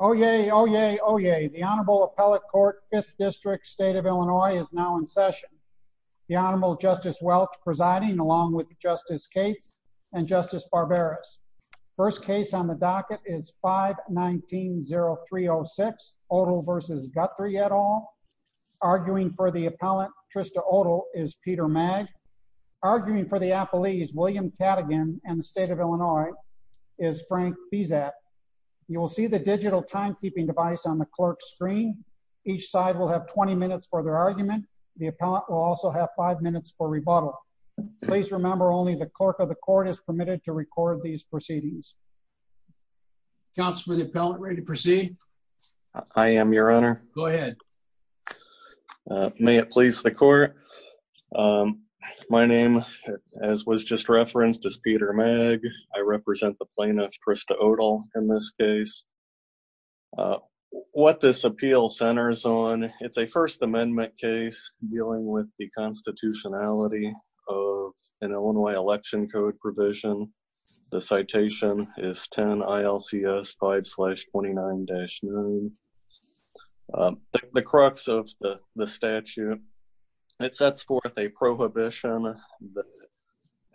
Oyez, oyez, oyez. The Honorable Appellate Court, 5th District, State of Illinois, is now in session. The Honorable Justice Welch presiding, along with Justice Cates and Justice Barberas. First case on the docket is 5-19-0306, Oettie v. Guthrie, et al. Arguing for the appellant, Trista Oettie, is Peter Magg. Arguing for the appellees, William Cadigan and the State of Illinois, is Frank Pizat. You will see the digital timekeeping device on the clerk's screen. Each side will have 20 minutes for their argument. The appellant will also have 5 minutes for rebuttal. Please remember only the clerk of the court is permitted to record these proceedings. Counsel for the appellant, ready to proceed? I am, Your Honor. Go ahead. May it please the court. My name, as was just referenced, is Peter Magg. I represent the plaintiff, Trista Oettel, in this case. What this appeal centers on, it's a First Amendment case dealing with the constitutionality of an Illinois election code provision. The citation is 10 ILCS 5-29-9. The crux of the statute, it sets forth a prohibition that,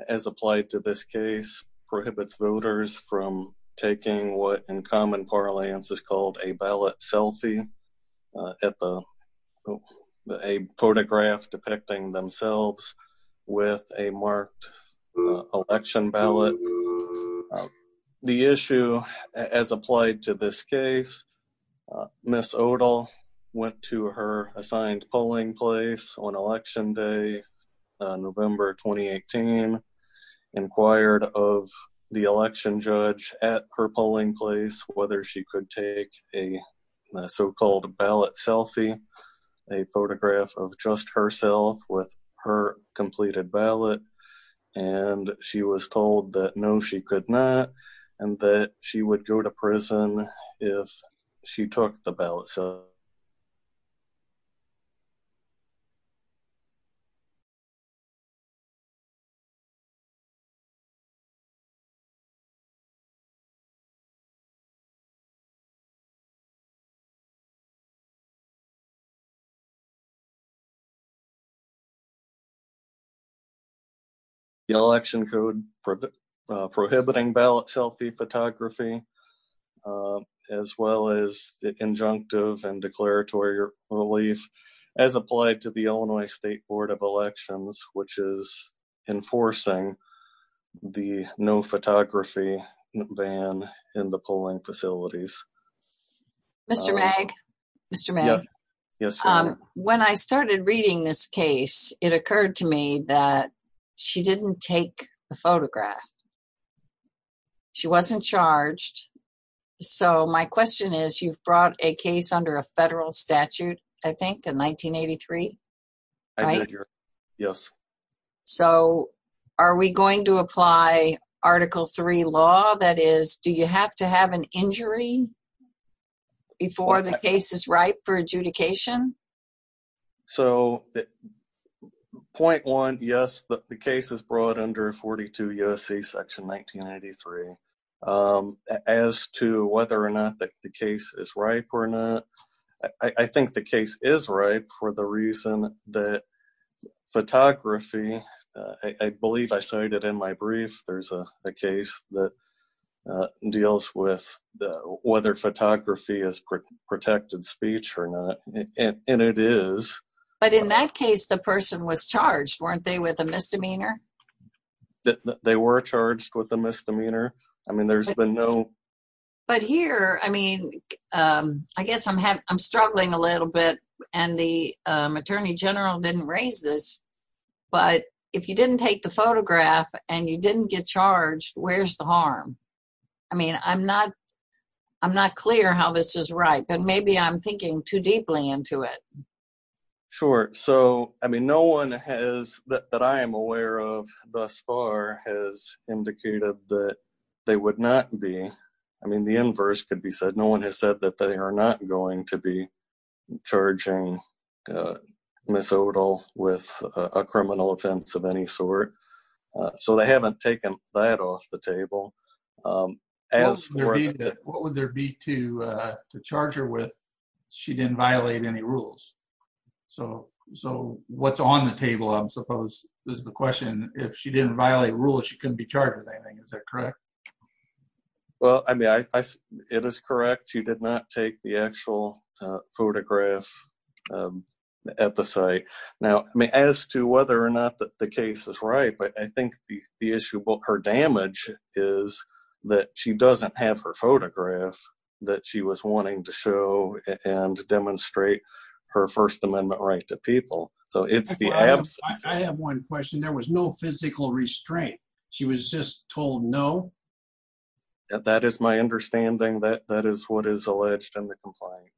as applied to this case, prohibits voters from taking what, in common parlance, is called a ballot selfie, a photograph depicting themselves with a marked election ballot. The issue, as applied to this case, Ms. Oettel went to her assigned polling place on Election Day, November 2018, inquired of the election judge at her polling place whether she could take a so-called ballot selfie, a photograph of just herself with her completed ballot, and she was told that no, she could not, and that she would go to prison if she took the ballot selfie. The election code prohibiting ballot selfie photography, as well as the injunctive and declaratory relief, as applied to the Illinois State Board of Elections, which is enforcing the no photography ban in the polling facilities. Mr. Magg, when I started reading this case, it occurred to me that she didn't take the photograph. She wasn't charged. So, my question is, you've brought a case under a federal statute, I think, in 1983? I did, yes. So, are we going to apply Article III law? That is, do you have to have an injury before the case is ripe for adjudication? So, point one, yes, the case is brought under 42 U.S.C. Section 1983. As to whether or not the case is ripe or not, I think the case is ripe for the reason that photography, I believe I cited in my brief, there's a case that deals with whether photography is protected speech or not, and it is. But in that case, the person was charged, weren't they, with a misdemeanor? They were charged with a misdemeanor. I mean, there's been no... But here, I mean, I guess I'm struggling a little bit, and the Attorney General didn't raise this, but if you didn't take the photograph and you didn't get charged, where's the harm? I mean, I'm not clear how this is ripe, and maybe I'm thinking too deeply into it. Sure. So, I mean, no one that I am aware of thus far has indicated that they would not be... I mean, the inverse could be said. No one has said that they are not going to be charging Ms. Odall with a criminal offense of any sort. So, they haven't taken that off the table. What would there be to charge her with? She didn't violate any rules. So, what's on the table, I suppose, is the question. If she didn't violate rules, she couldn't be charged with anything. Is that correct? Well, I mean, it is correct. She did not take the actual photograph at the site. Now, I mean, as to whether or not the case is ripe, I think the issue about her damage is that she doesn't have her photograph that she was wanting to show and demonstrate her First Amendment right to people. So, it's the absence... I have one question. There was no physical restraint. She was just told no? That is my understanding. That is what is alleged in the complaint.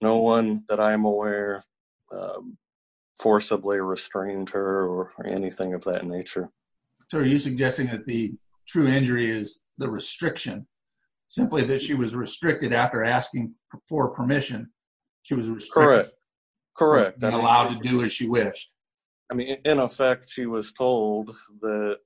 No one that I am aware forcibly restrained her or anything of that nature. So, are you suggesting that the true injury is the restriction? Simply that she was restricted after asking for permission, she was restricted... Correct. Correct. ...and not been allowed to do as she wished? I mean, in effect, she was told that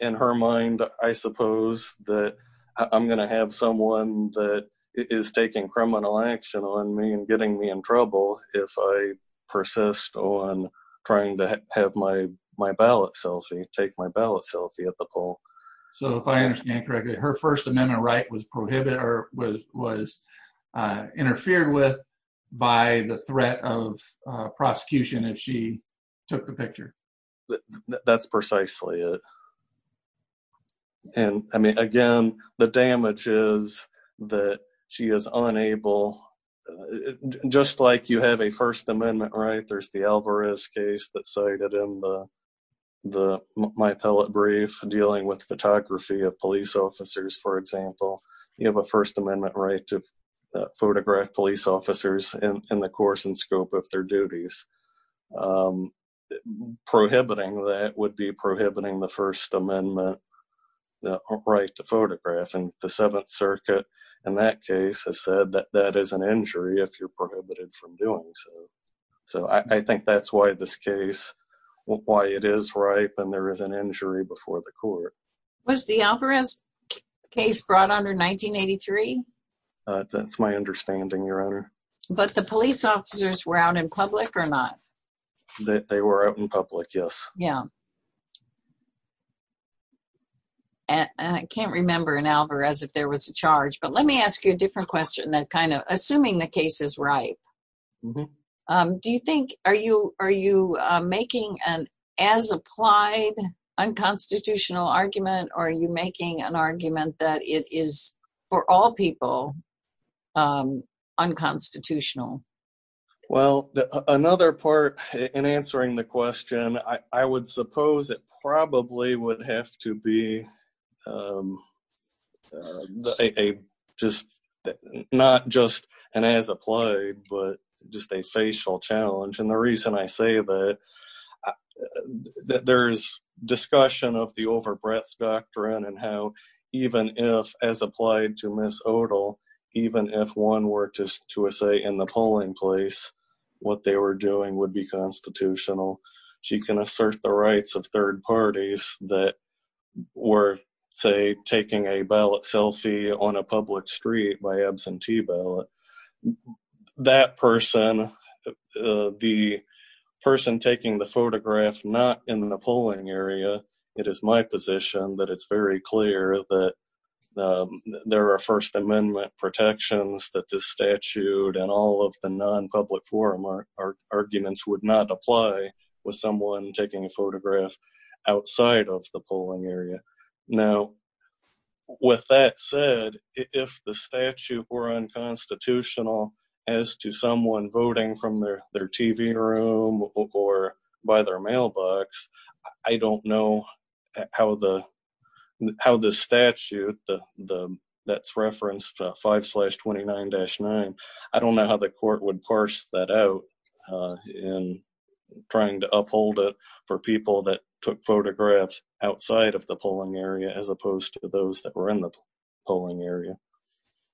in her mind, I suppose, that I'm going to have someone that is taking criminal action on me and getting me in trouble if I persist on trying to have my ballot selfie, take my ballot selfie at the poll. So, if I understand correctly, her First Amendment right was prohibited or was interfered with by the threat of prosecution if she took the picture? That's precisely it. I mean, again, the damage is that she is unable... Just like you have a First Amendment right, there's the Alvarez case that's cited in my appellate brief dealing with photography of police officers, for example. You have a First Amendment right to photograph police officers in the course and scope of their duties. Prohibiting that would be prohibiting the First Amendment right to photograph. And the Seventh Circuit, in that case, has said that that is an injury if you're prohibited from doing so. So, I think that's why this case, why it is ripe and there is an injury before the court. Was the Alvarez case brought under 1983? That's my understanding, Your Honor. But the police officers were out in public or not? They were out in public, yes. Yeah. And I can't remember an Alvarez if there was a charge, but let me ask you a different question that kind of... Assuming the case is ripe, do you think... Are you making an as-applied, unconstitutional argument, or are you making an argument that it is, for all people, unconstitutional? Well, another part in answering the question, I would suppose it probably would have to be not just an as-applied, but just a facial challenge. And the reason I say that, there's discussion of the over-breath doctrine and how even if, as applied to Ms. Odell, even if one were to say in the polling place what they were doing would be constitutional, she can assert the rights of third parties that were, say, taking a ballot selfie on a public street by absentee ballot. That person, the person taking the photograph not in the polling area, it is my position that it's very clear that there are First Amendment protections that the statute and all of the non-public forum arguments would not apply with someone taking a photograph outside of the polling area. Now, with that said, if the statute were unconstitutional as to someone voting from their TV room or by their mailbox, I don't know how the court would parse that out in trying to uphold it for people that took photographs outside of the polling area as opposed to those that were in the polling area.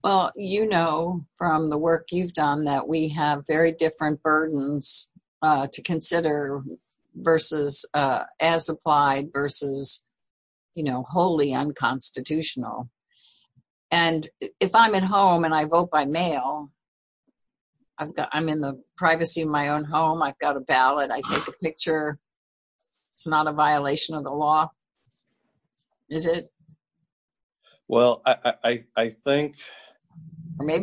Well, you know from the work you've done that we have very different burdens to consider as applied versus wholly unconstitutional. And if I'm at home and I vote by mail, I'm in the privacy of my own home, I've got a ballot, I take a picture, it's not a violation of the law, is it? Well, I think, by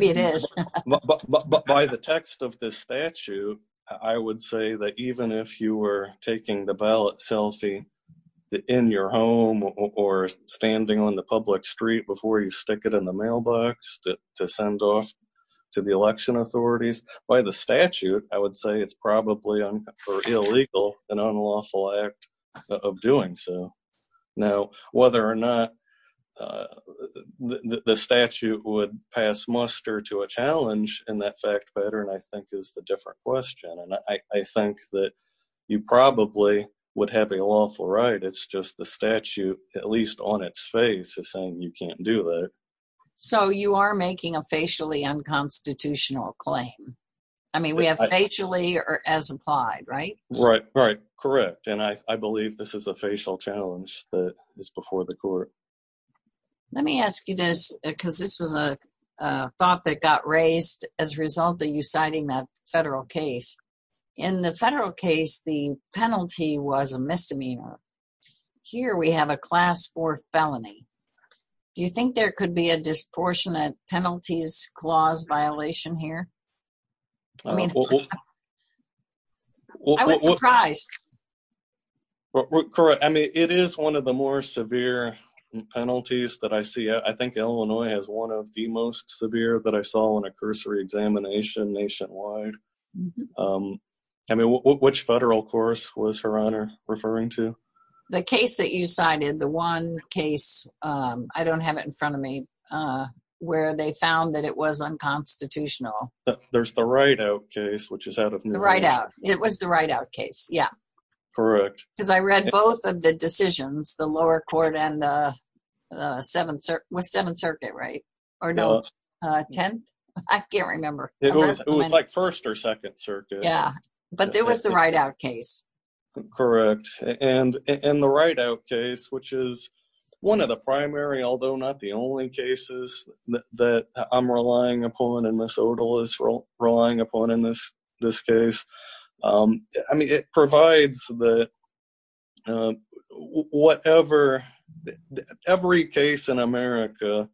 the text of the statute, I would say that even if you were taking the ballot selfie in your home or standing on the public street before you stick it in the mailbox to send off to the election authorities, by the statute, I would say it's probably illegal, an unlawful act of doing so. Now, whether or not the statute would pass muster to a challenge in that fact pattern, I think is the different question. And I think that you probably would have a lawful right, it's just the statute, at least on its face, is saying you can't do that. So you are making a facially unconstitutional claim. I mean, we have facially or as applied, right? Right, right. Correct. And I believe this is a facial challenge that is before the court. Let me ask you this, because this was a thought that got raised as a result of you citing that federal case. In the federal case, the penalty was a misdemeanor. Here we have a class four felony. Do you think there could be a disproportionate penalties clause violation here? I mean, I was surprised. Correct. I mean, it is one of the more severe penalties that I see. I think Illinois has one of the most severe that I saw on a cursory examination nationwide. I mean, which federal course was Her Honor referring to? The case that you cited, the one case, I don't have it in front of me, where they found that it was unconstitutional. There's the Rideout case, which is out of New York. The Rideout. It was the Rideout case. Yeah. Correct. Because I read both of the decisions, the lower court and the 7th Circuit, was 7th Circuit, right? Or no, 10th? I can't remember. It was like 1st or 2nd Circuit. Yeah. But there was the Rideout case. Correct. And in the Rideout case, which is one of the primary, although not the only cases that I'm relying upon, and Ms. Odal is relying upon in this case, I mean, it provides that whatever, every case in America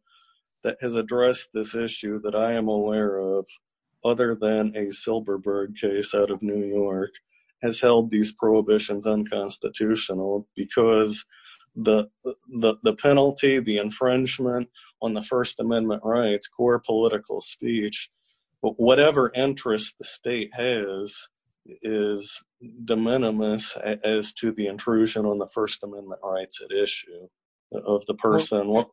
that has addressed this issue that I am aware of, other than a Silberberg case out of New York, has held these prohibitions unconstitutional because the penalty, the infringement on the First Amendment rights, core political speech, whatever interest the state has, is de minimis as to the intrusion on the First Amendment rights at issue of the person.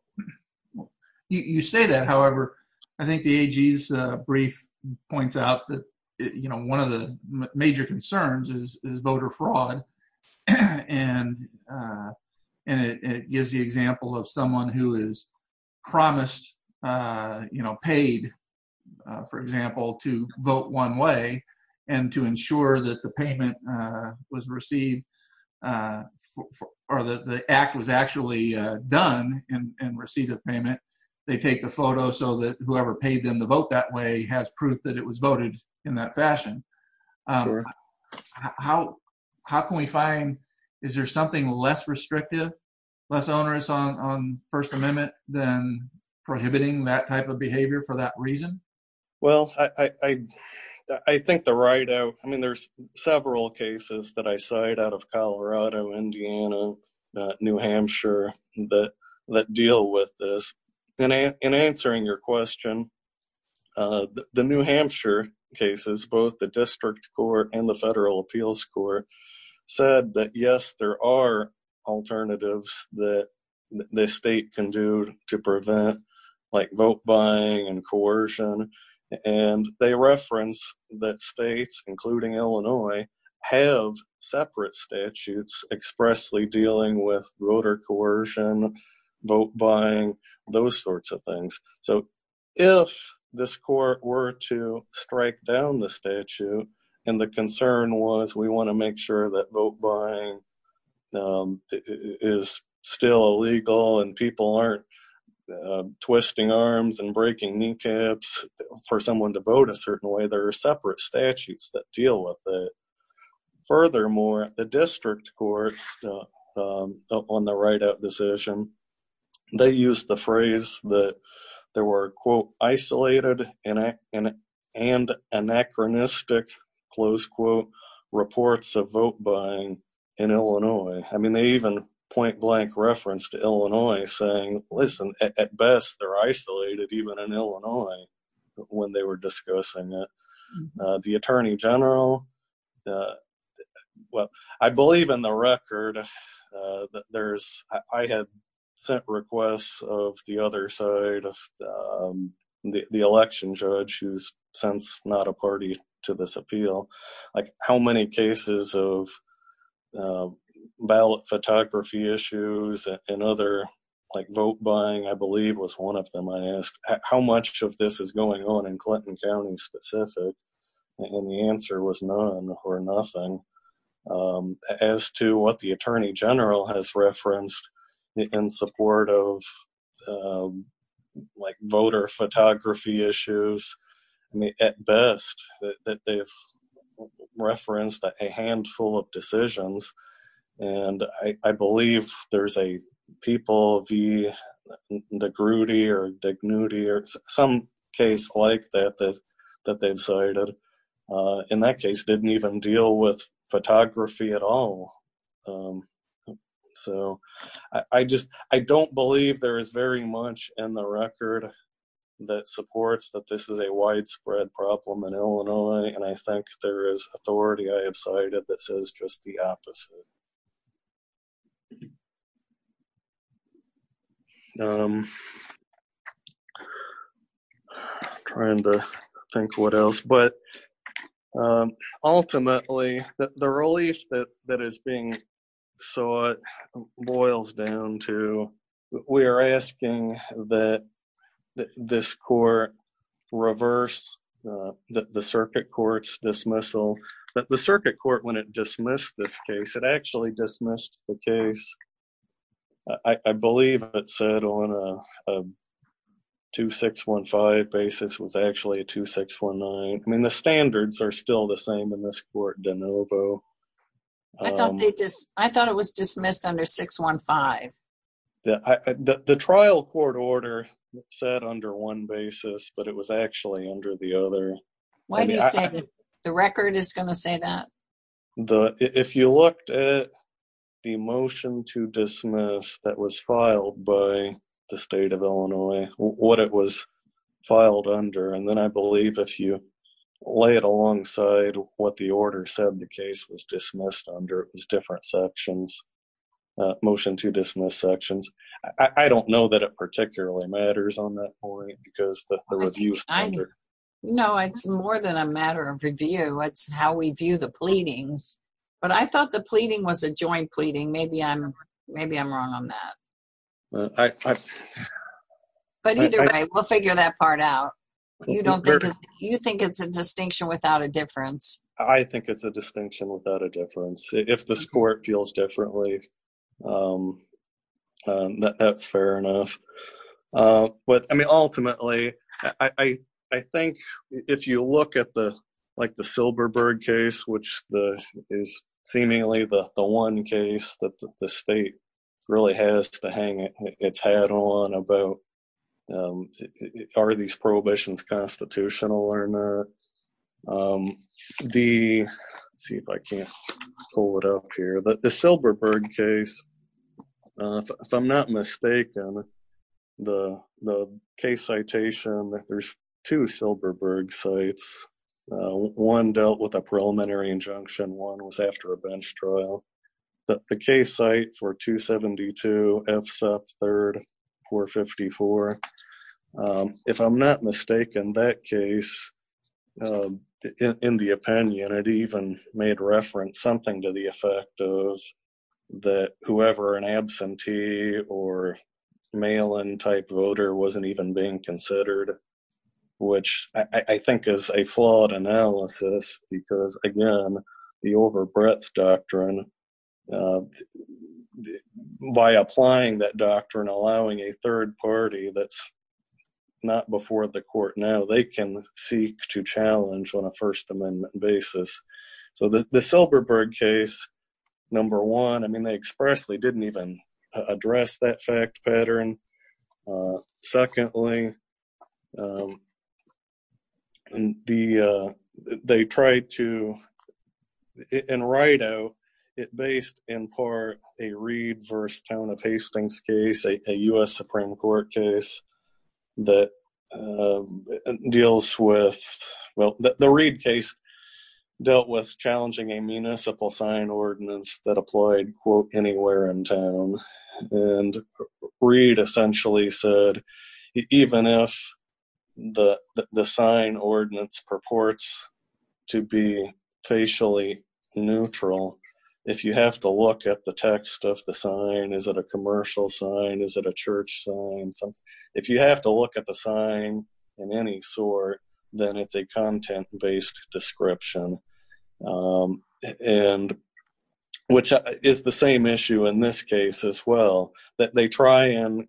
You say that, however, I think the AG's brief points out that, you know, one of the major concerns is voter fraud. And it gives the example of someone who is promised, you know, paid, for example, to vote one way and to ensure that the payment was received or that the act was actually done in receipt of payment. They take the photo so that whoever paid them to vote that way has proof that it was voted in that fashion. How can we find, is there something less restrictive, less onerous on First Amendment than prohibiting that type of behavior for that reason? Well, I think the Rideout, I mean, there's several cases that I cite out of Colorado, Indiana, New Hampshire, that deal with this. In answering your question, the New Hampshire cases, both the district court and the federal appeals court, said that, yes, there are alternatives that the state can do to prevent like vote buying and coercion. And they reference that states, including Illinois, have separate statutes expressly dealing with voter coercion, vote buying, those sorts of things. So if this court were to strike down the statute and the concern was we want to make sure that vote buying is still illegal and people aren't twisting arms and breaking kneecaps for someone to vote a certain way, there are separate statutes that deal with it. Furthermore, the district court on the Rideout decision, they used the phrase that there were, quote, isolated and anachronistic, close quote, reports of vote buying in Illinois. I mean, they even point blank reference to Illinois saying, listen, at best they're isolated, even in Illinois, when they were discussing it. The attorney general, well, I believe in the record that I have sent requests of the other side of the election judge, who's since not a party to this appeal, like how many cases of ballot photography issues and other like vote buying, I believe, was one of them. I asked how much of this is going on in Clinton County specific and the answer was none or nothing. As to what the attorney general has referenced in support of like voter photography issues, I mean, at best that they've referenced a handful of decisions. And I believe there's a people of the grudy or dignity or some case like that, that they've cited in that case didn't even deal with photography at all. So I just I don't believe there is very much in the record that supports that this is a widespread problem in Illinois. And I think there is authority I have cited that says just the opposite. I'm trying to think what else, but ultimately the relief that that is being sought boils down to we are asking that this court reverse the circuit court's dismissal, that the circuit court, when it dismissed this case, it actually dismissed the case. I believe it said on a two six one five basis was actually a two six one nine. I mean, the standards are still the same in this court, DeNovo. I thought they just I thought it was dismissed under six one five. The trial court order said under one basis, but it was actually under the other. Why do you say that the record is going to say that? If you looked at the motion to dismiss that was filed by the state of Illinois, what it was filed under and then I believe if you lay it alongside what the order said, the case was dismissed under different sections, motion to dismiss sections. I don't know that it particularly matters on that point because the review. No, it's more than a matter of review. It's how we view the pleadings. But I thought the pleading was a joint pleading. Maybe I'm maybe I'm wrong on that. But either way, we'll figure that part out. You don't you think it's a distinction without a difference? I think it's a distinction without a difference. If the score feels differently, that's fair enough. But I mean, ultimately, I think if you look at the like the Silberberg case, which is seemingly the one case that the state really has to hang its head on about, are these prohibitions constitutional or not? The see if I can pull it up here, but the Silberberg case, if I'm not mistaken. The the case citation that there's two Silberberg sites, one dealt with a preliminary injunction, one was after a bench trial. But the case site for 272 FSEP 3rd 454, if I'm not mistaken, that case, in the opinion, it even made reference something to the effect of that whoever an absentee or mail-in type voter wasn't even being considered, which I think is a flawed analysis because, again, the overbreadth doctrine, by applying that doctrine, allowing a third party that's not before the court now, they can seek to challenge on a First Amendment basis. So the Silberberg case, number one, I mean, they expressly didn't even address that fact pattern. Secondly, they tried to write out it based in part a Reed versus Town of Hastings case, a with challenging a municipal sign ordinance that applied, quote, anywhere in town. And Reed essentially said, even if the sign ordinance purports to be facially neutral, if you have to look at the text of the sign, is it a commercial sign? Is it a church sign? So if you have to look at the sign in any sort, then it's a content based description, which is the same issue in this case as well, that the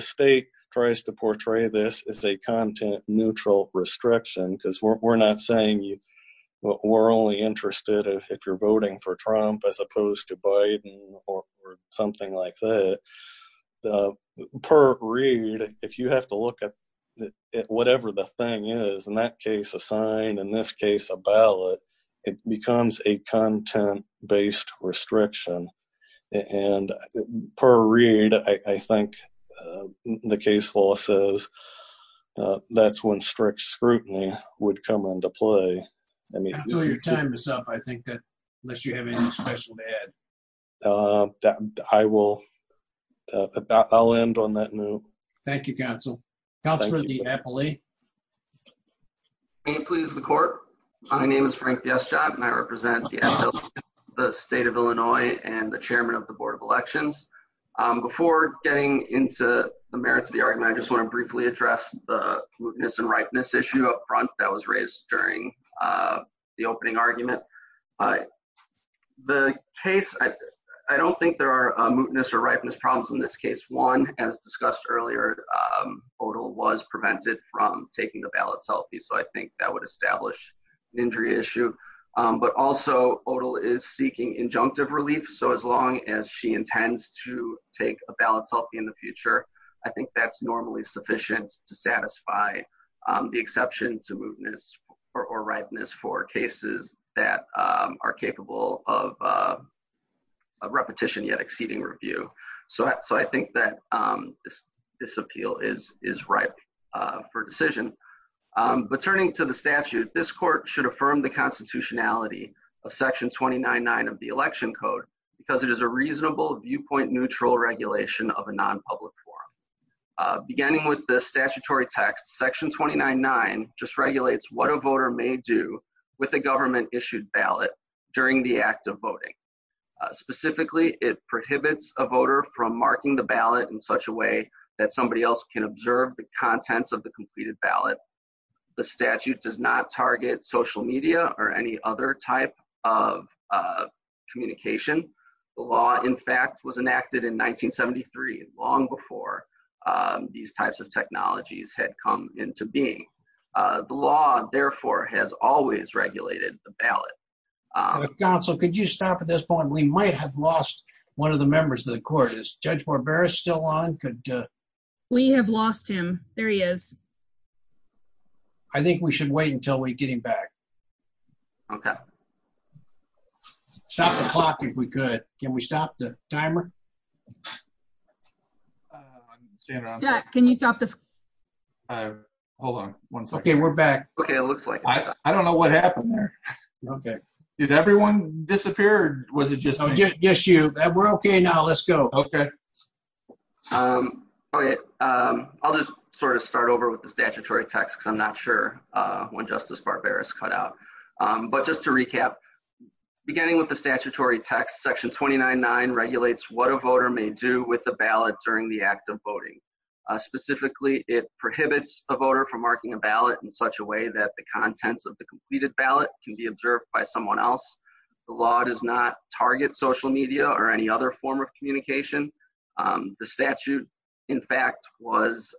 state tries to portray this as a content neutral restriction because we're not saying we're only interested if you're voting for Trump as opposed to Biden or something like that. Per Reed, if you have to look at whatever the thing is in that case, a sign, in this case, a ballot, it becomes a content based restriction. And per Reed, I think the case law says that's when strict scrutiny would come into play. I mean, your time is up. I think that unless you have any special bad that I will, I'll end on that note. Thank you, counsel. Counselor DiAppoli. May it please the court. My name is Frank DiAppoli and I represent the state of Illinois and the chairman of the board of elections. Before getting into the merits of the argument, I just want to briefly address the mootness and ripeness issue up front that was raised during the opening argument. The case, I don't think there are mootness or ripeness problems in this case. One, as discussed earlier, Odell was prevented from taking the ballot selfie. So I think that would establish an injury issue. But also, Odell is seeking injunctive relief. So as long as she intends to take a ballot selfie in the future, I think that's normally sufficient to satisfy the exception to mootness or ripeness for cases that are capable of a repetition yet exceeding review. So I think that this appeal is ripe for decision. But turning to the statute, this court should affirm the constitutionality of section twenty nine nine of the election code because it is a reasonable viewpoint neutral regulation of a non-public forum. Beginning with the statutory text, section twenty nine nine just regulates what a voter may do with a government issued ballot during the act of voting. Specifically, it prohibits a voter from marking the ballot in such a way that somebody else can observe the contents of the completed ballot. The statute does not target social media or any other type of communication. The law, in fact, was enacted in nineteen seventy three long before these types of technologies had come into being. The law, therefore, has always regulated the ballot. Council, could you stop at this point? We might have lost one of the members of the court is Judge Barbera still on? Could we have lost him? There he is. I think we should wait until we get him back. OK. Stop the clock if we could. Can we stop the timer? Can you stop the. Hold on one second. We're back. OK, it looks like I don't know what happened there. OK. Did everyone disappeared? Was it just you? We're OK now. Let's go. OK. I'll just sort of start over with the statutory text. I'm not sure when Justice Barbera is cut out. But just to recap, beginning with the statutory text, section twenty nine nine regulates what a voter may do with the ballot during the act of voting. Specifically, it prohibits a voter from marking a ballot in such a way that the contents of the completed ballot can be observed by someone else. The law does not target social media or any other form of communication. The statute, in fact, was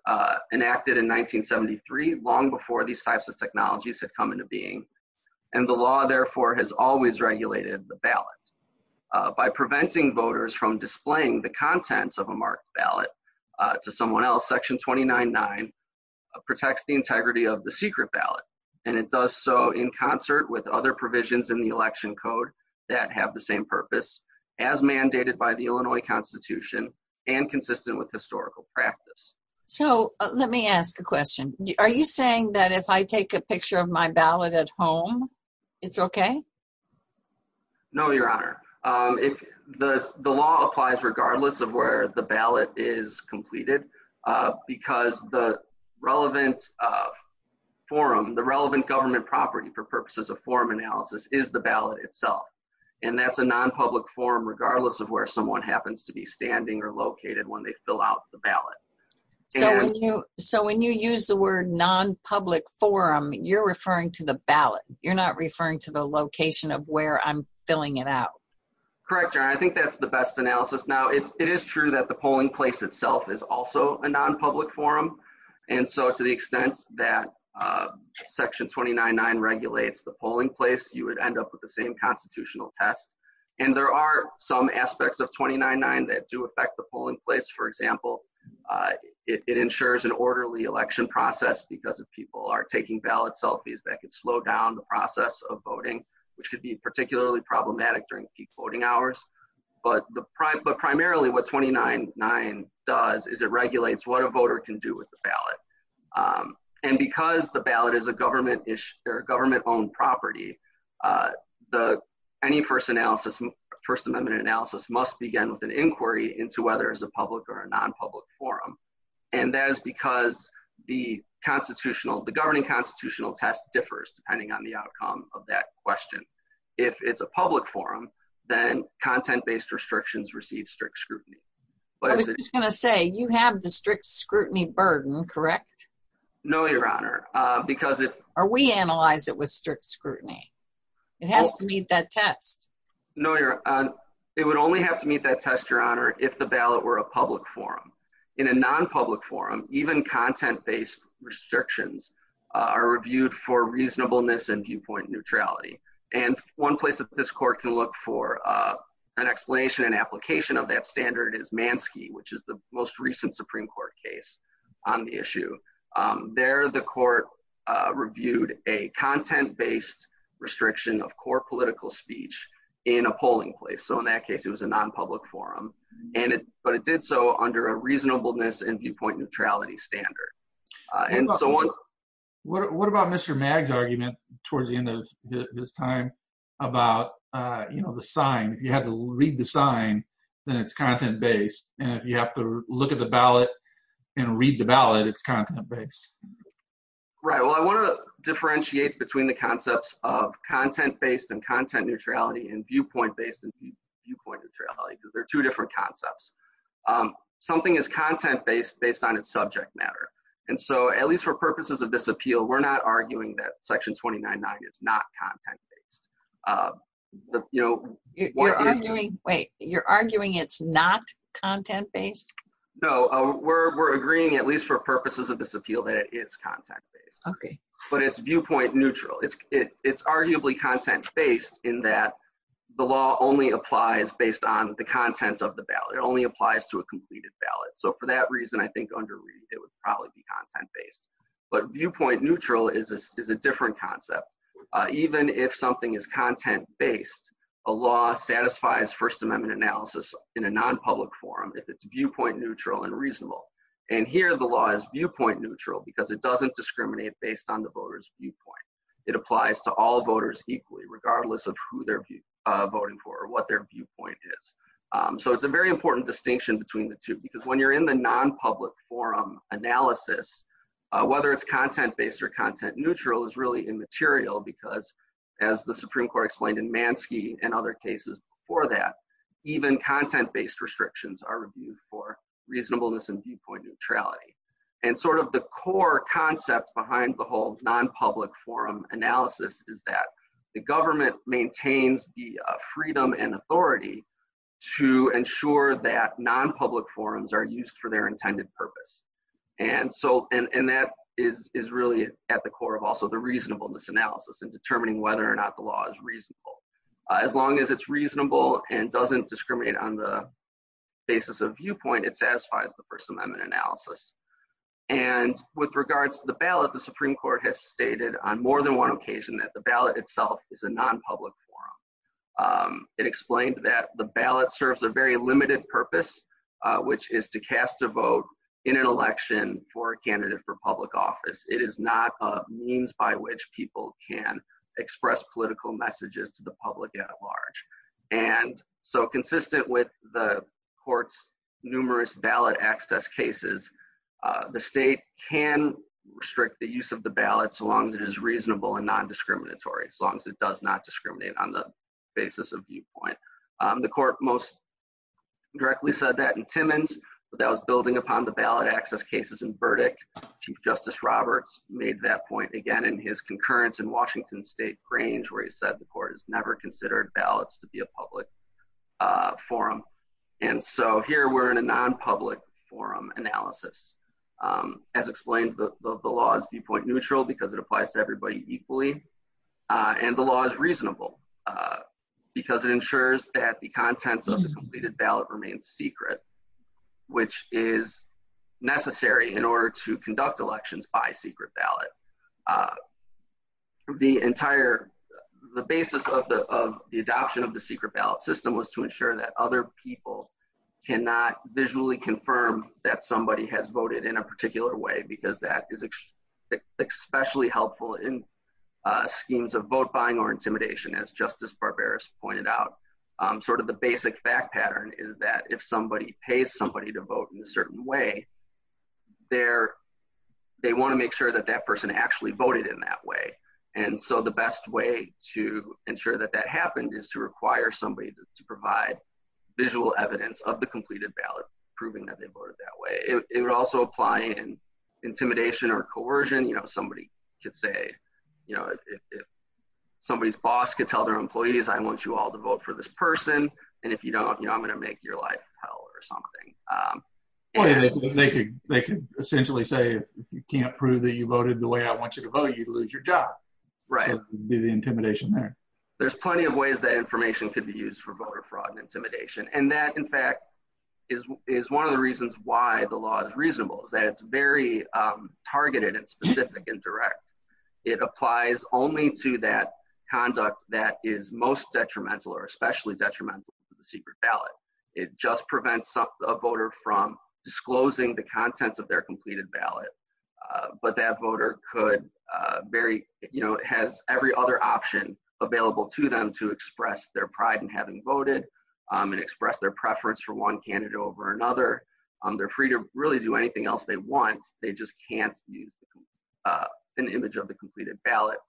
enacted in 1973, long before these types of technologies had come into being. And the law, therefore, has always regulated the ballots by preventing voters from displaying the contents of a marked ballot to someone else. Section twenty nine nine protects the integrity of the secret ballot, and it does so in concert with other provisions in the election code that have the same purpose as mandated by the Illinois Constitution and consistent with historical practice. So let me ask a question. Are you saying that if I take a picture of my ballot at home, it's OK? No, Your Honor. If the law applies, regardless of where the ballot is completed, because the relevant forum, the relevant government property for purposes of forum analysis is the ballot itself. And that's a nonpublic forum, regardless of where someone happens to be standing or located when they fill out the ballot. So when you so when you use the word nonpublic forum, you're referring to the ballot. You're not referring to the location of where I'm filling it out. Correct, Your Honor. I think that's the best analysis. Now, it is true that the polling place itself is also a nonpublic forum. And so to the extent that Section twenty nine nine regulates the polling place, you would end up with the same constitutional test. And there are some aspects of twenty nine nine that do affect the polling place. For example, it ensures an orderly election process because if people are taking ballot selfies, that could slow down the process of voting, which could be particularly problematic during peak voting hours. But the but primarily what twenty nine nine does is it regulates what a voter can do with the ballot. And because the ballot is a government or government owned property, the any first analysis, First Amendment analysis must begin with an inquiry into whether it's a public or a nonpublic forum. And that is because the constitutional, the governing constitutional test differs depending on the outcome of that question. If it's a public forum, then content based restrictions receive strict scrutiny. But it's going to say you have the strict scrutiny burden, correct? No, Your Honor, because if we analyze it with strict scrutiny, it has to meet that test. No, Your Honor. It would only have to meet that test, Your Honor, if the ballot were a public forum in a nonpublic forum. Even content based restrictions are reviewed for reasonableness and viewpoint neutrality. And one place that this court can look for an explanation and application of that standard is Mansky, which is the most recent Supreme Court case on the issue. There, the court reviewed a content based restriction of core political speech in a polling place. So in that case, it was a nonpublic forum. And but it did so under a reasonableness and viewpoint neutrality standard. And so what about Mr. Maggs' argument towards the end of this time about, you know, the sign, if you had to read the sign, then it's content based. And if you have to look at the ballot and read the ballot, it's content based. Right. Well, I want to differentiate between the concepts of content based and content neutrality and viewpoint based and viewpoint neutrality, because they're two different concepts. Something is content based based on its subject matter. And so at least for purposes of this appeal, we're not arguing that Section 29.9 is not content based. You know, you're arguing it's not content based? No, we're agreeing, at least for purposes of this appeal, that it is content based. OK. But it's viewpoint neutral. It's it's arguably content based in that the law only applies based on the contents of the ballot. It only applies to a completed ballot. So for that reason, I think under read, it would probably be content based. But viewpoint neutral is a different concept. Even if something is content based, a law satisfies First Amendment analysis in a nonpublic forum if it's viewpoint neutral and reasonable. And here the law is viewpoint neutral because it doesn't discriminate based on the voters viewpoint. It applies to all voters equally, regardless of who they're voting for or what their viewpoint is. So it's a very important distinction between the two, because when you're in the nonpublic forum analysis, whether it's content based or content neutral is really immaterial because, as the Supreme Court explained in Manske and other cases before that, even content based restrictions are reviewed for reasonableness and viewpoint neutrality. And sort of the core concept behind the whole nonpublic forum analysis is that the government maintains the freedom and authority to ensure that nonpublic forums are used for their intended purpose. And so and that is really at the core of also the reasonableness analysis and determining whether or not the law is reasonable. As long as it's reasonable and doesn't discriminate on the basis of viewpoint, it satisfies the First Amendment analysis. And with regards to the ballot, the Supreme Court has stated on more than one occasion that the ballot itself is a nonpublic forum. It explained that the ballot serves a very limited purpose, which is to cast a vote in an election for a candidate for public office. It is not a means by which people can express political messages to the public at large. And so consistent with the court's numerous ballot access cases, the state can restrict the use of the ballot so long as it is reasonable and non-discriminatory, as long as it does not discriminate on the basis of viewpoint. The court most directly said that in Timmons, but that was building upon the ballot access cases in Burdick. Chief Justice Roberts made that point again in his concurrence in Washington State Grange, where he said the court has never considered ballots to be a public forum. And so here we're in a nonpublic forum analysis. As explained, the law is viewpoint neutral because it applies to everybody equally. And the law is reasonable because it ensures that the contents of the completed ballot remains secret, which is necessary in order to conduct elections by secret ballot. The entire the basis of the adoption of the secret ballot system was to ensure that other people cannot visually confirm that somebody has voted in a particular way, because that is especially helpful in schemes of vote buying or intimidation, as Justice Barbaros pointed out. Sort of the basic fact pattern is that if somebody pays somebody to vote in a certain way, they want to make sure that that person actually voted in that way. And so the best way to ensure that that happened is to require somebody to provide visual evidence of the completed ballot, proving that they voted that way. It would also apply in intimidation or coercion. You know, somebody could say, you know, if somebody's boss could tell their employees, I want you all to vote for this person. And if you don't, you know, I'm going to make your life hell or something. They could they could essentially say, if you can't prove that you voted the way I want you to vote, you lose your job. Right. The intimidation there. There's plenty of ways that information could be used for voter fraud and intimidation. And that, in fact, is is one of the reasons why the law is reasonable is that it's very targeted and specific and direct. It applies only to that conduct that is most detrimental or especially detrimental to the secret ballot. It just prevents a voter from disclosing the contents of their completed ballot. But that voter could very, you know, has every other option available to them to express their pride in having voted and express their preference for one candidate over another. They're free to really do anything else they want. They just can't use an image of the completed ballot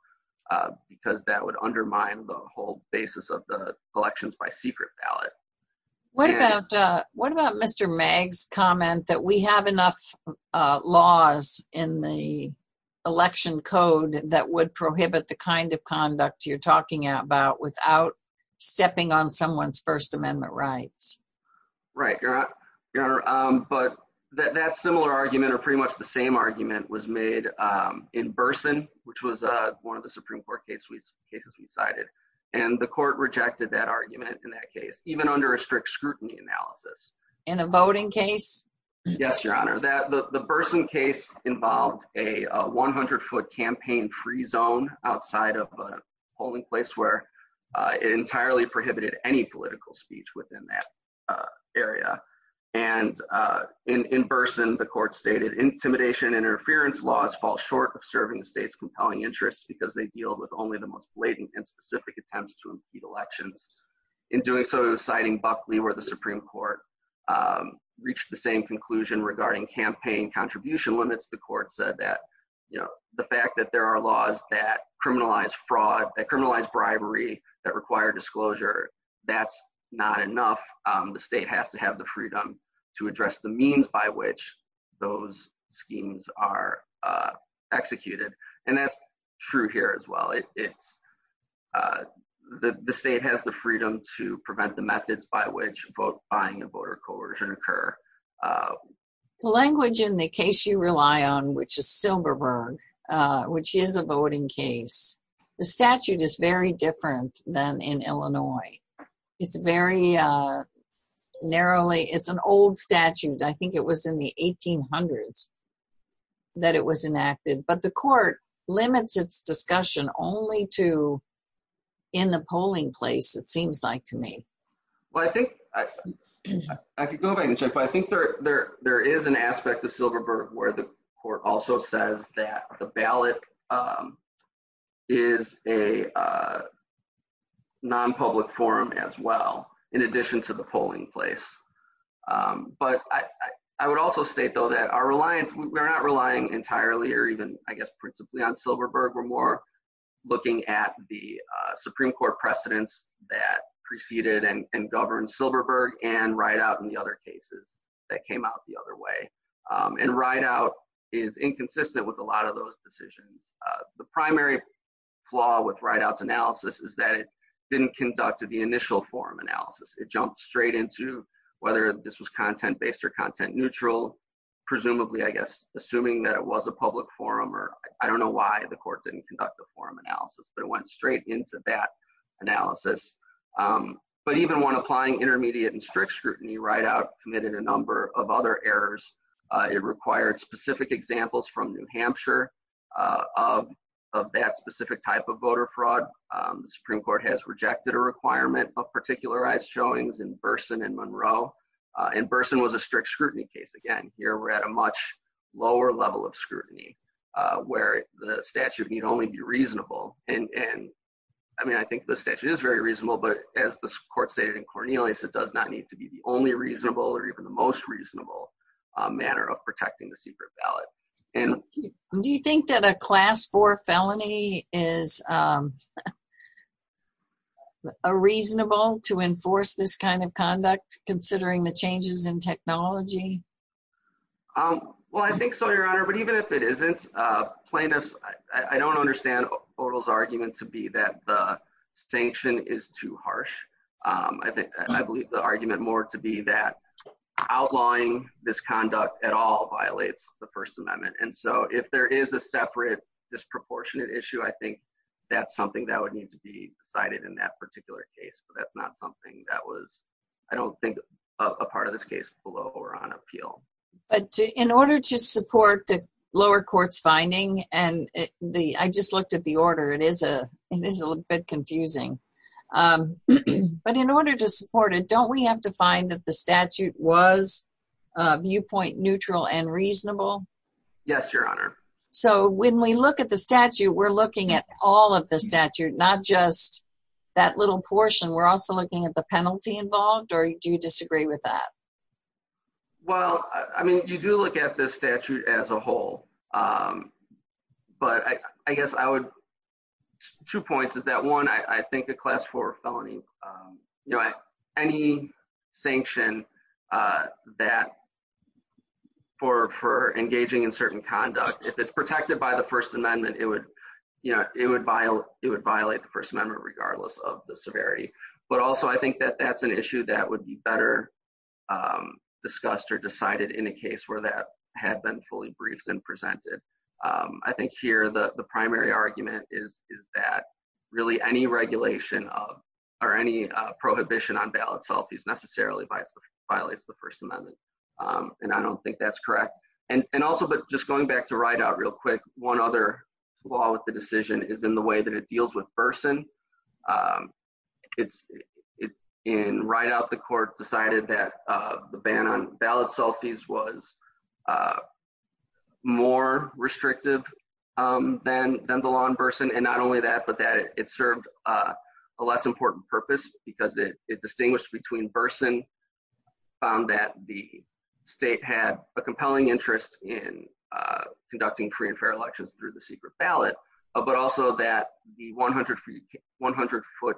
because that would undermine the whole basis of the elections by secret ballot. What about what about Mr. Meg's comment that we have enough laws in the election code that would prohibit the kind of conduct you're talking about without stepping on someone's First Amendment rights? Right. But that's similar argument or pretty much the same argument was made in Burson, which was one of the Supreme Court cases we cited. And the court rejected that argument in that case, even under a strict scrutiny analysis in a voting case. Yes, Your Honor, that the Burson case involved a 100 foot campaign free zone outside of a polling place where it entirely prohibited any political speech within that area. And in Burson, the court stated intimidation interference laws fall short of serving the state's compelling interests because they deal with only the most blatant and specific attempts to impede elections. In doing so, citing Buckley, where the Supreme Court reached the same conclusion regarding campaign contribution limits, the court said that, you know, the fact that there are laws that criminalize fraud, that criminalize bribery, that require disclosure, that's not enough. The state has to have the freedom to address the means by which those schemes are executed. And that's true here as well. It's the state has the freedom to prevent the methods by which vote buying and voter coercion occur. The language in the case you rely on, which is Silberberg, which is a voting case, the statute is very different than in Illinois. It's very narrowly. It's an old statute. I think it was in the 1800s that it was enacted, but the court limits its discussion only to in the polling place, it seems like to me. Well, I think I could go back and check. I think there there there is an aspect of Silberberg where the court also says that the ballot is a non-public forum as well, in addition to the polling place. But I would also state, though, that our reliance, we're not relying entirely or even, I guess, principally on Silberberg. We're more looking at the Supreme Court precedents that preceded and governed Silberberg and Rideout and the other cases that came out the other way. And Rideout is inconsistent with a lot of those decisions. The primary flaw with Rideout's analysis is that it didn't conduct the initial forum analysis. It jumped straight into whether this was content based or content neutral, presumably, I guess, assuming that it was a public forum or I don't know why the court didn't conduct a forum analysis, but it went straight into that analysis. But even when applying intermediate and strict scrutiny, Rideout committed a number of other errors. It required specific examples from New Hampshire of that specific type of particularized showings in Burson and Monroe. And Burson was a strict scrutiny case. Again, here we're at a much lower level of scrutiny where the statute need only be reasonable. And I mean, I think the statute is very reasonable. But as the court stated in Cornelius, it does not need to be the only reasonable or even the most reasonable manner of protecting the secret ballot. And do you think that a class four felony is a reasonable to enforce this kind of conduct considering the changes in technology? Well, I think so, Your Honor, but even if it isn't plaintiffs, I don't understand Odal's argument to be that the sanction is too harsh. I think I believe the argument more to be that outlawing this conduct at all violates the First Amendment. And so if there is a separate disproportionate issue, I think that's something that would need to be decided in that particular case. But that's not something that was, I don't think, a part of this case below or on appeal. But in order to support the lower court's finding and the I just looked at the order, it is a it is a bit confusing. But in order to support it, don't we have to find that the statute was viewpoint neutral and reasonable? Yes, Your Honor. So when we look at the statute, we're looking at all of the statute, not just that little portion. We're also looking at the penalty involved. Or do you disagree with that? Well, I mean, you do look at the statute as a whole, but I guess I would two points is that one, I think a class four felony, you know, any sanction that for for engaging in certain conduct, if it's protected by the First Amendment, it would, you know, it would violate it would violate the First Amendment regardless of the severity. But also, I think that that's an issue that would be better discussed or decided in a case where that had been fully briefed and presented. I think here the primary argument is that really any regulation of or any prohibition on ballot selfies necessarily violates the First Amendment. And I don't think that's correct. And also, but just going back to ride out real quick, one other flaw with the decision is in the way that it deals with person. It's in right out, the court decided that the ban on ballot selfies was more restrictive than than the law in person. And not only that, but that it served a less important purpose because it distinguished between person found that the state had a compelling interest in conducting free and fair elections through the secret ballot, but also that the 100 feet, 100 foot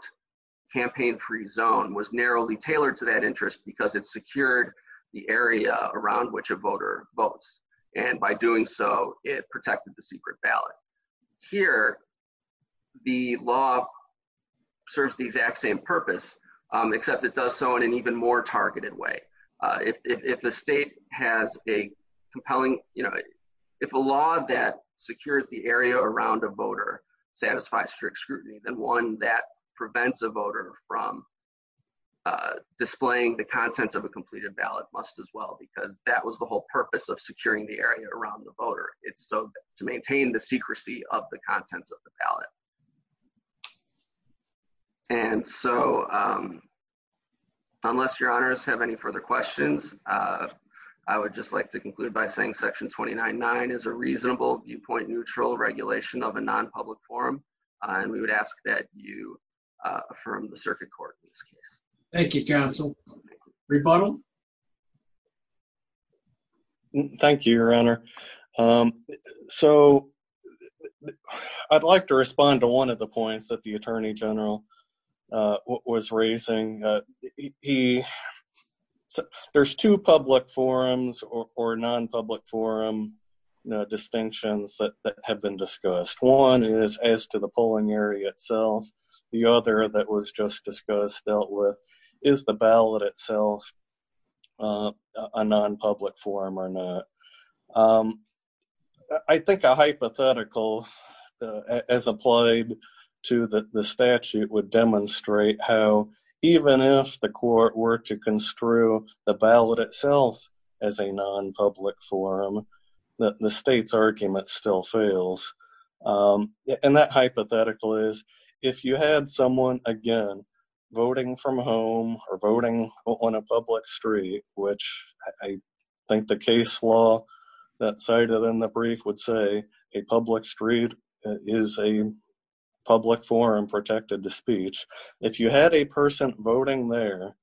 campaign free zone was narrowly tailored to that interest because it secured the area around which a voter votes. And by doing so, it protected the secret ballot here. The law serves the exact same purpose, except it does so in an even more targeted way. If the state has a compelling, you know, if a law that secures the area around a voter satisfies strict scrutiny, then one that prevents a voter from displaying the contents of a completed ballot must as well, because that was the whole purpose of securing the area around the voter. It's so to maintain the secrecy of the contents of the ballot. And so unless your honors have any further questions, I would just like to conclude by saying Section 29.9 is a reasonable viewpoint, neutral regulation of a non-public forum. And we would ask that you affirm the circuit court in this case. Thank you, counsel. Rebuttal. Thank you, your honor. So I'd like to respond to one of the points that the attorney general was raising. There's two public forums or non-public forum distinctions that have been discussed. One is as to the polling area itself. The other that was just discussed dealt with is the ballot itself a non-public forum or a non-public forum. I think a hypothetical as applied to the statute would demonstrate how even if the court were to construe the ballot itself as a non-public forum, that the state's argument still fails. And that hypothetical is if you had someone, again, voting from home or voting on a law that cited in the brief would say a public street is a public forum protected to speech. If you had a person voting there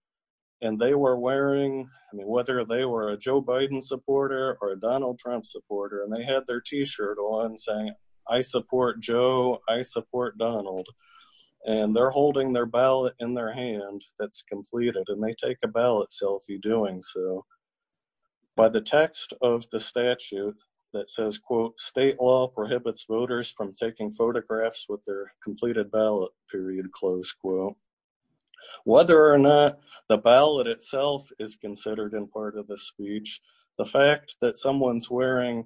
and they were wearing, I mean, whether they were a Joe Biden supporter or a Donald Trump supporter, and they had their t-shirt on saying, I support Joe, I support Donald, and they're holding their ballot in their hand that's completed and they take a ballot selfie doing so. By the text of the statute that says, quote, state law prohibits voters from taking photographs with their completed ballot, period, close quote. Whether or not the ballot itself is considered in part of the speech, the fact that someone's wearing,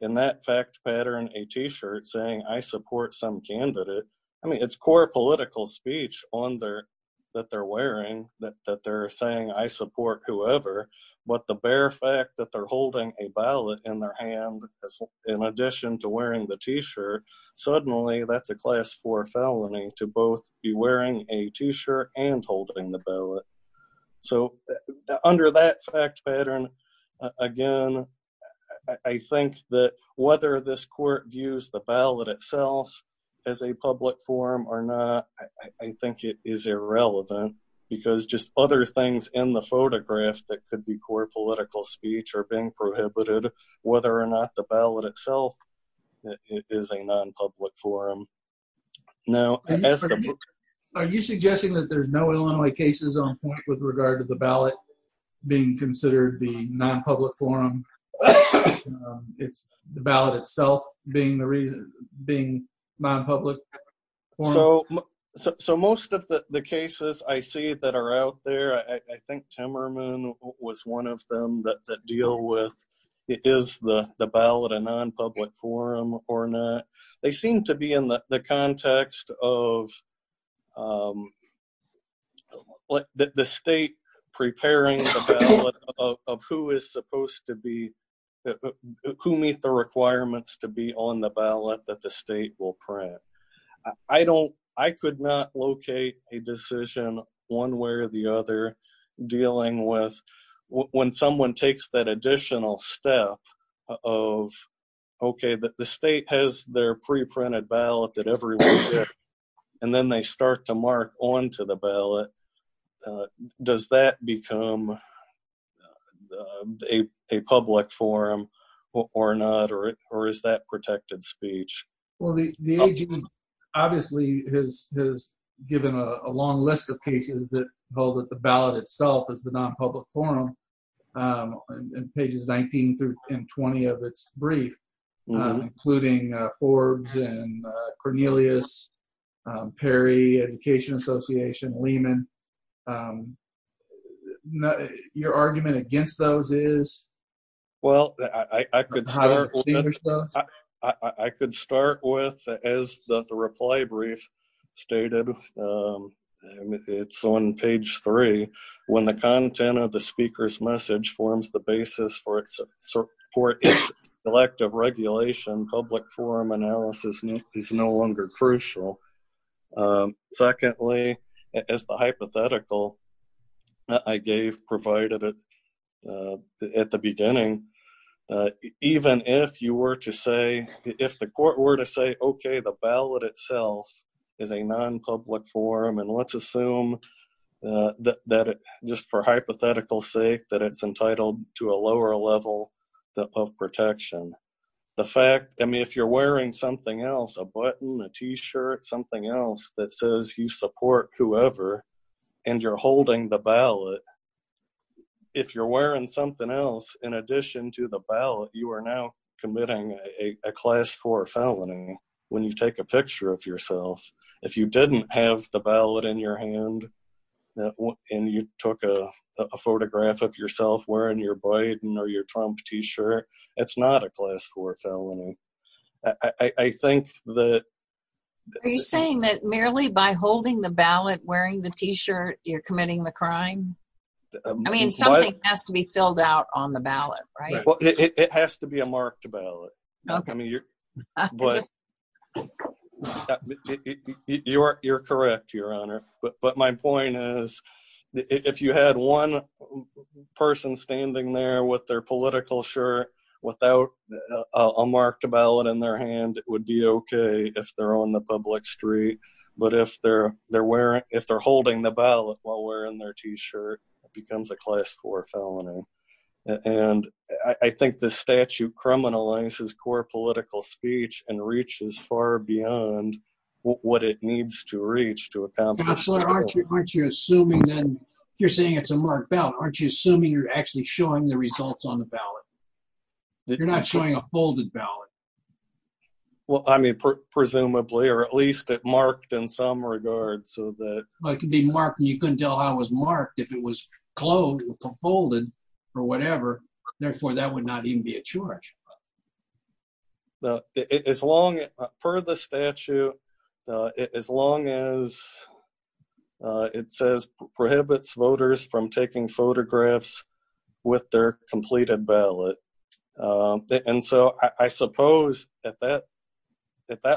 in that fact pattern, a t-shirt saying I support some candidate, I mean, it's core political speech on there that they're wearing, that they're saying I support whoever, but the bare fact that they're holding a ballot in their hand, in addition to wearing the t-shirt, suddenly that's a class 4 felony to both be wearing a t-shirt and holding the ballot. So under that fact pattern, again, I think that whether this court views the ballot itself as a public forum or not, I think it is irrelevant because just other things in the photograph that could be core political speech are being prohibited, whether or not the ballot itself is a non-public forum. Now, are you suggesting that there's no Illinois cases on point with regard to the ballot being considered the non-public forum? It's the ballot itself being the reason, being non-public? So most of the cases I see that are out there, I think Timmerman was one of them that deal with, is the ballot a non-public forum or not? They seem to be in the context of the state preparing the ballot of who is supposed to be, who meet the requirements to be on the ballot that the state will print. I don't, I could not locate a decision one way or the other dealing with when someone takes that additional step of, okay, the state has their pre-printed ballot that everyone gets and then they start to mark onto the ballot. Does that become a public forum or not, or is that protected speech? Well, the agency obviously has given a long list of cases that hold that the ballot itself is the non-public forum and pages 19 through 20 of its brief, including Forbes and Cornelius, Perry, Education Association, Lehman. Your argument against those is? Well, I could start with, as the reply brief stated, it's on page three, when the content of the speaker's message forms the basis for its elective regulation, public forum analysis is no longer crucial. Secondly, as the hypothetical I gave provided at the beginning, even if you were to say, if the court were to say, okay, the ballot itself is a non-public forum and let's assume that just for hypothetical sake, that it's entitled to a lower level of protection. The fact, I mean, if you're wearing something else, a button, a t-shirt, something else that says you support whoever, and you're holding the ballot, if you're wearing something else in addition to the ballot, you are now committing a class four felony when you take a picture of yourself. If you didn't have the ballot in your hand and you took a photograph of yourself wearing your Biden or your Trump t-shirt, it's not a class four felony. Are you saying that merely by holding the ballot, wearing the t-shirt, you're committing the crime? I mean, something has to be filled out on the ballot, right? Well, it has to be a marked ballot. I mean, you're correct, Your Honor, but my point is, if you had one person standing there with their political shirt without a marked ballot in their hand, it would be okay if they're on the public street. But if they're holding the ballot while wearing their t-shirt, it becomes a class four political speech and reaches far beyond what it needs to reach to accomplish that goal. Counselor, aren't you assuming then, you're saying it's a marked ballot, aren't you assuming you're actually showing the results on the ballot? You're not showing a folded ballot. Well, I mean, presumably, or at least it marked in some regard, so that. Well, it could be marked and you couldn't tell how it was marked if it was clothed or folded or whatever. Therefore, that would not even be a charge. As long, per the statute, as long as it says prohibits voters from taking photographs with their completed ballot. And so I suppose at that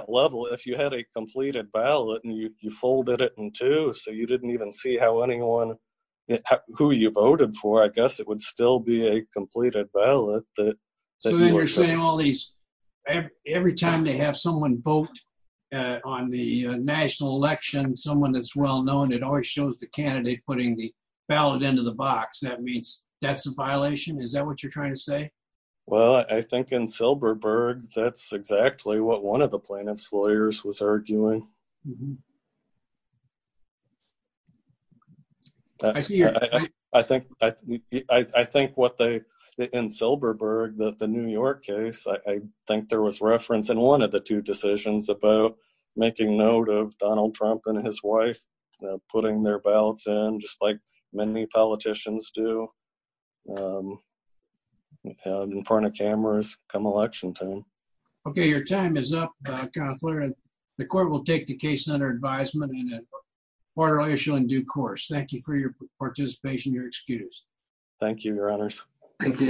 level, if you had a completed ballot and you folded it in two, so you didn't even see how anyone, who you voted for, I guess it would still be a completed ballot. So then you're saying all these, every time they have someone vote on the national election, someone that's well known, it always shows the candidate putting the ballot into the box. That means that's a violation. Is that what you're trying to say? Well, I think in Silberberg, that's exactly what one of the plaintiff's lawyers was arguing. I think, I think what they, in Silberberg, the New York case, I think there was reference in one of the two decisions about making note of Donald Trump and his wife putting their ballots in, just like many politicians do in front of cameras come election time. Okay. Your time is up. The court will take the case under advisement in a quarterly issue in due course. Thank you for your participation. Your excuse. Thank you, Your Honors. Thank you, Your Honor.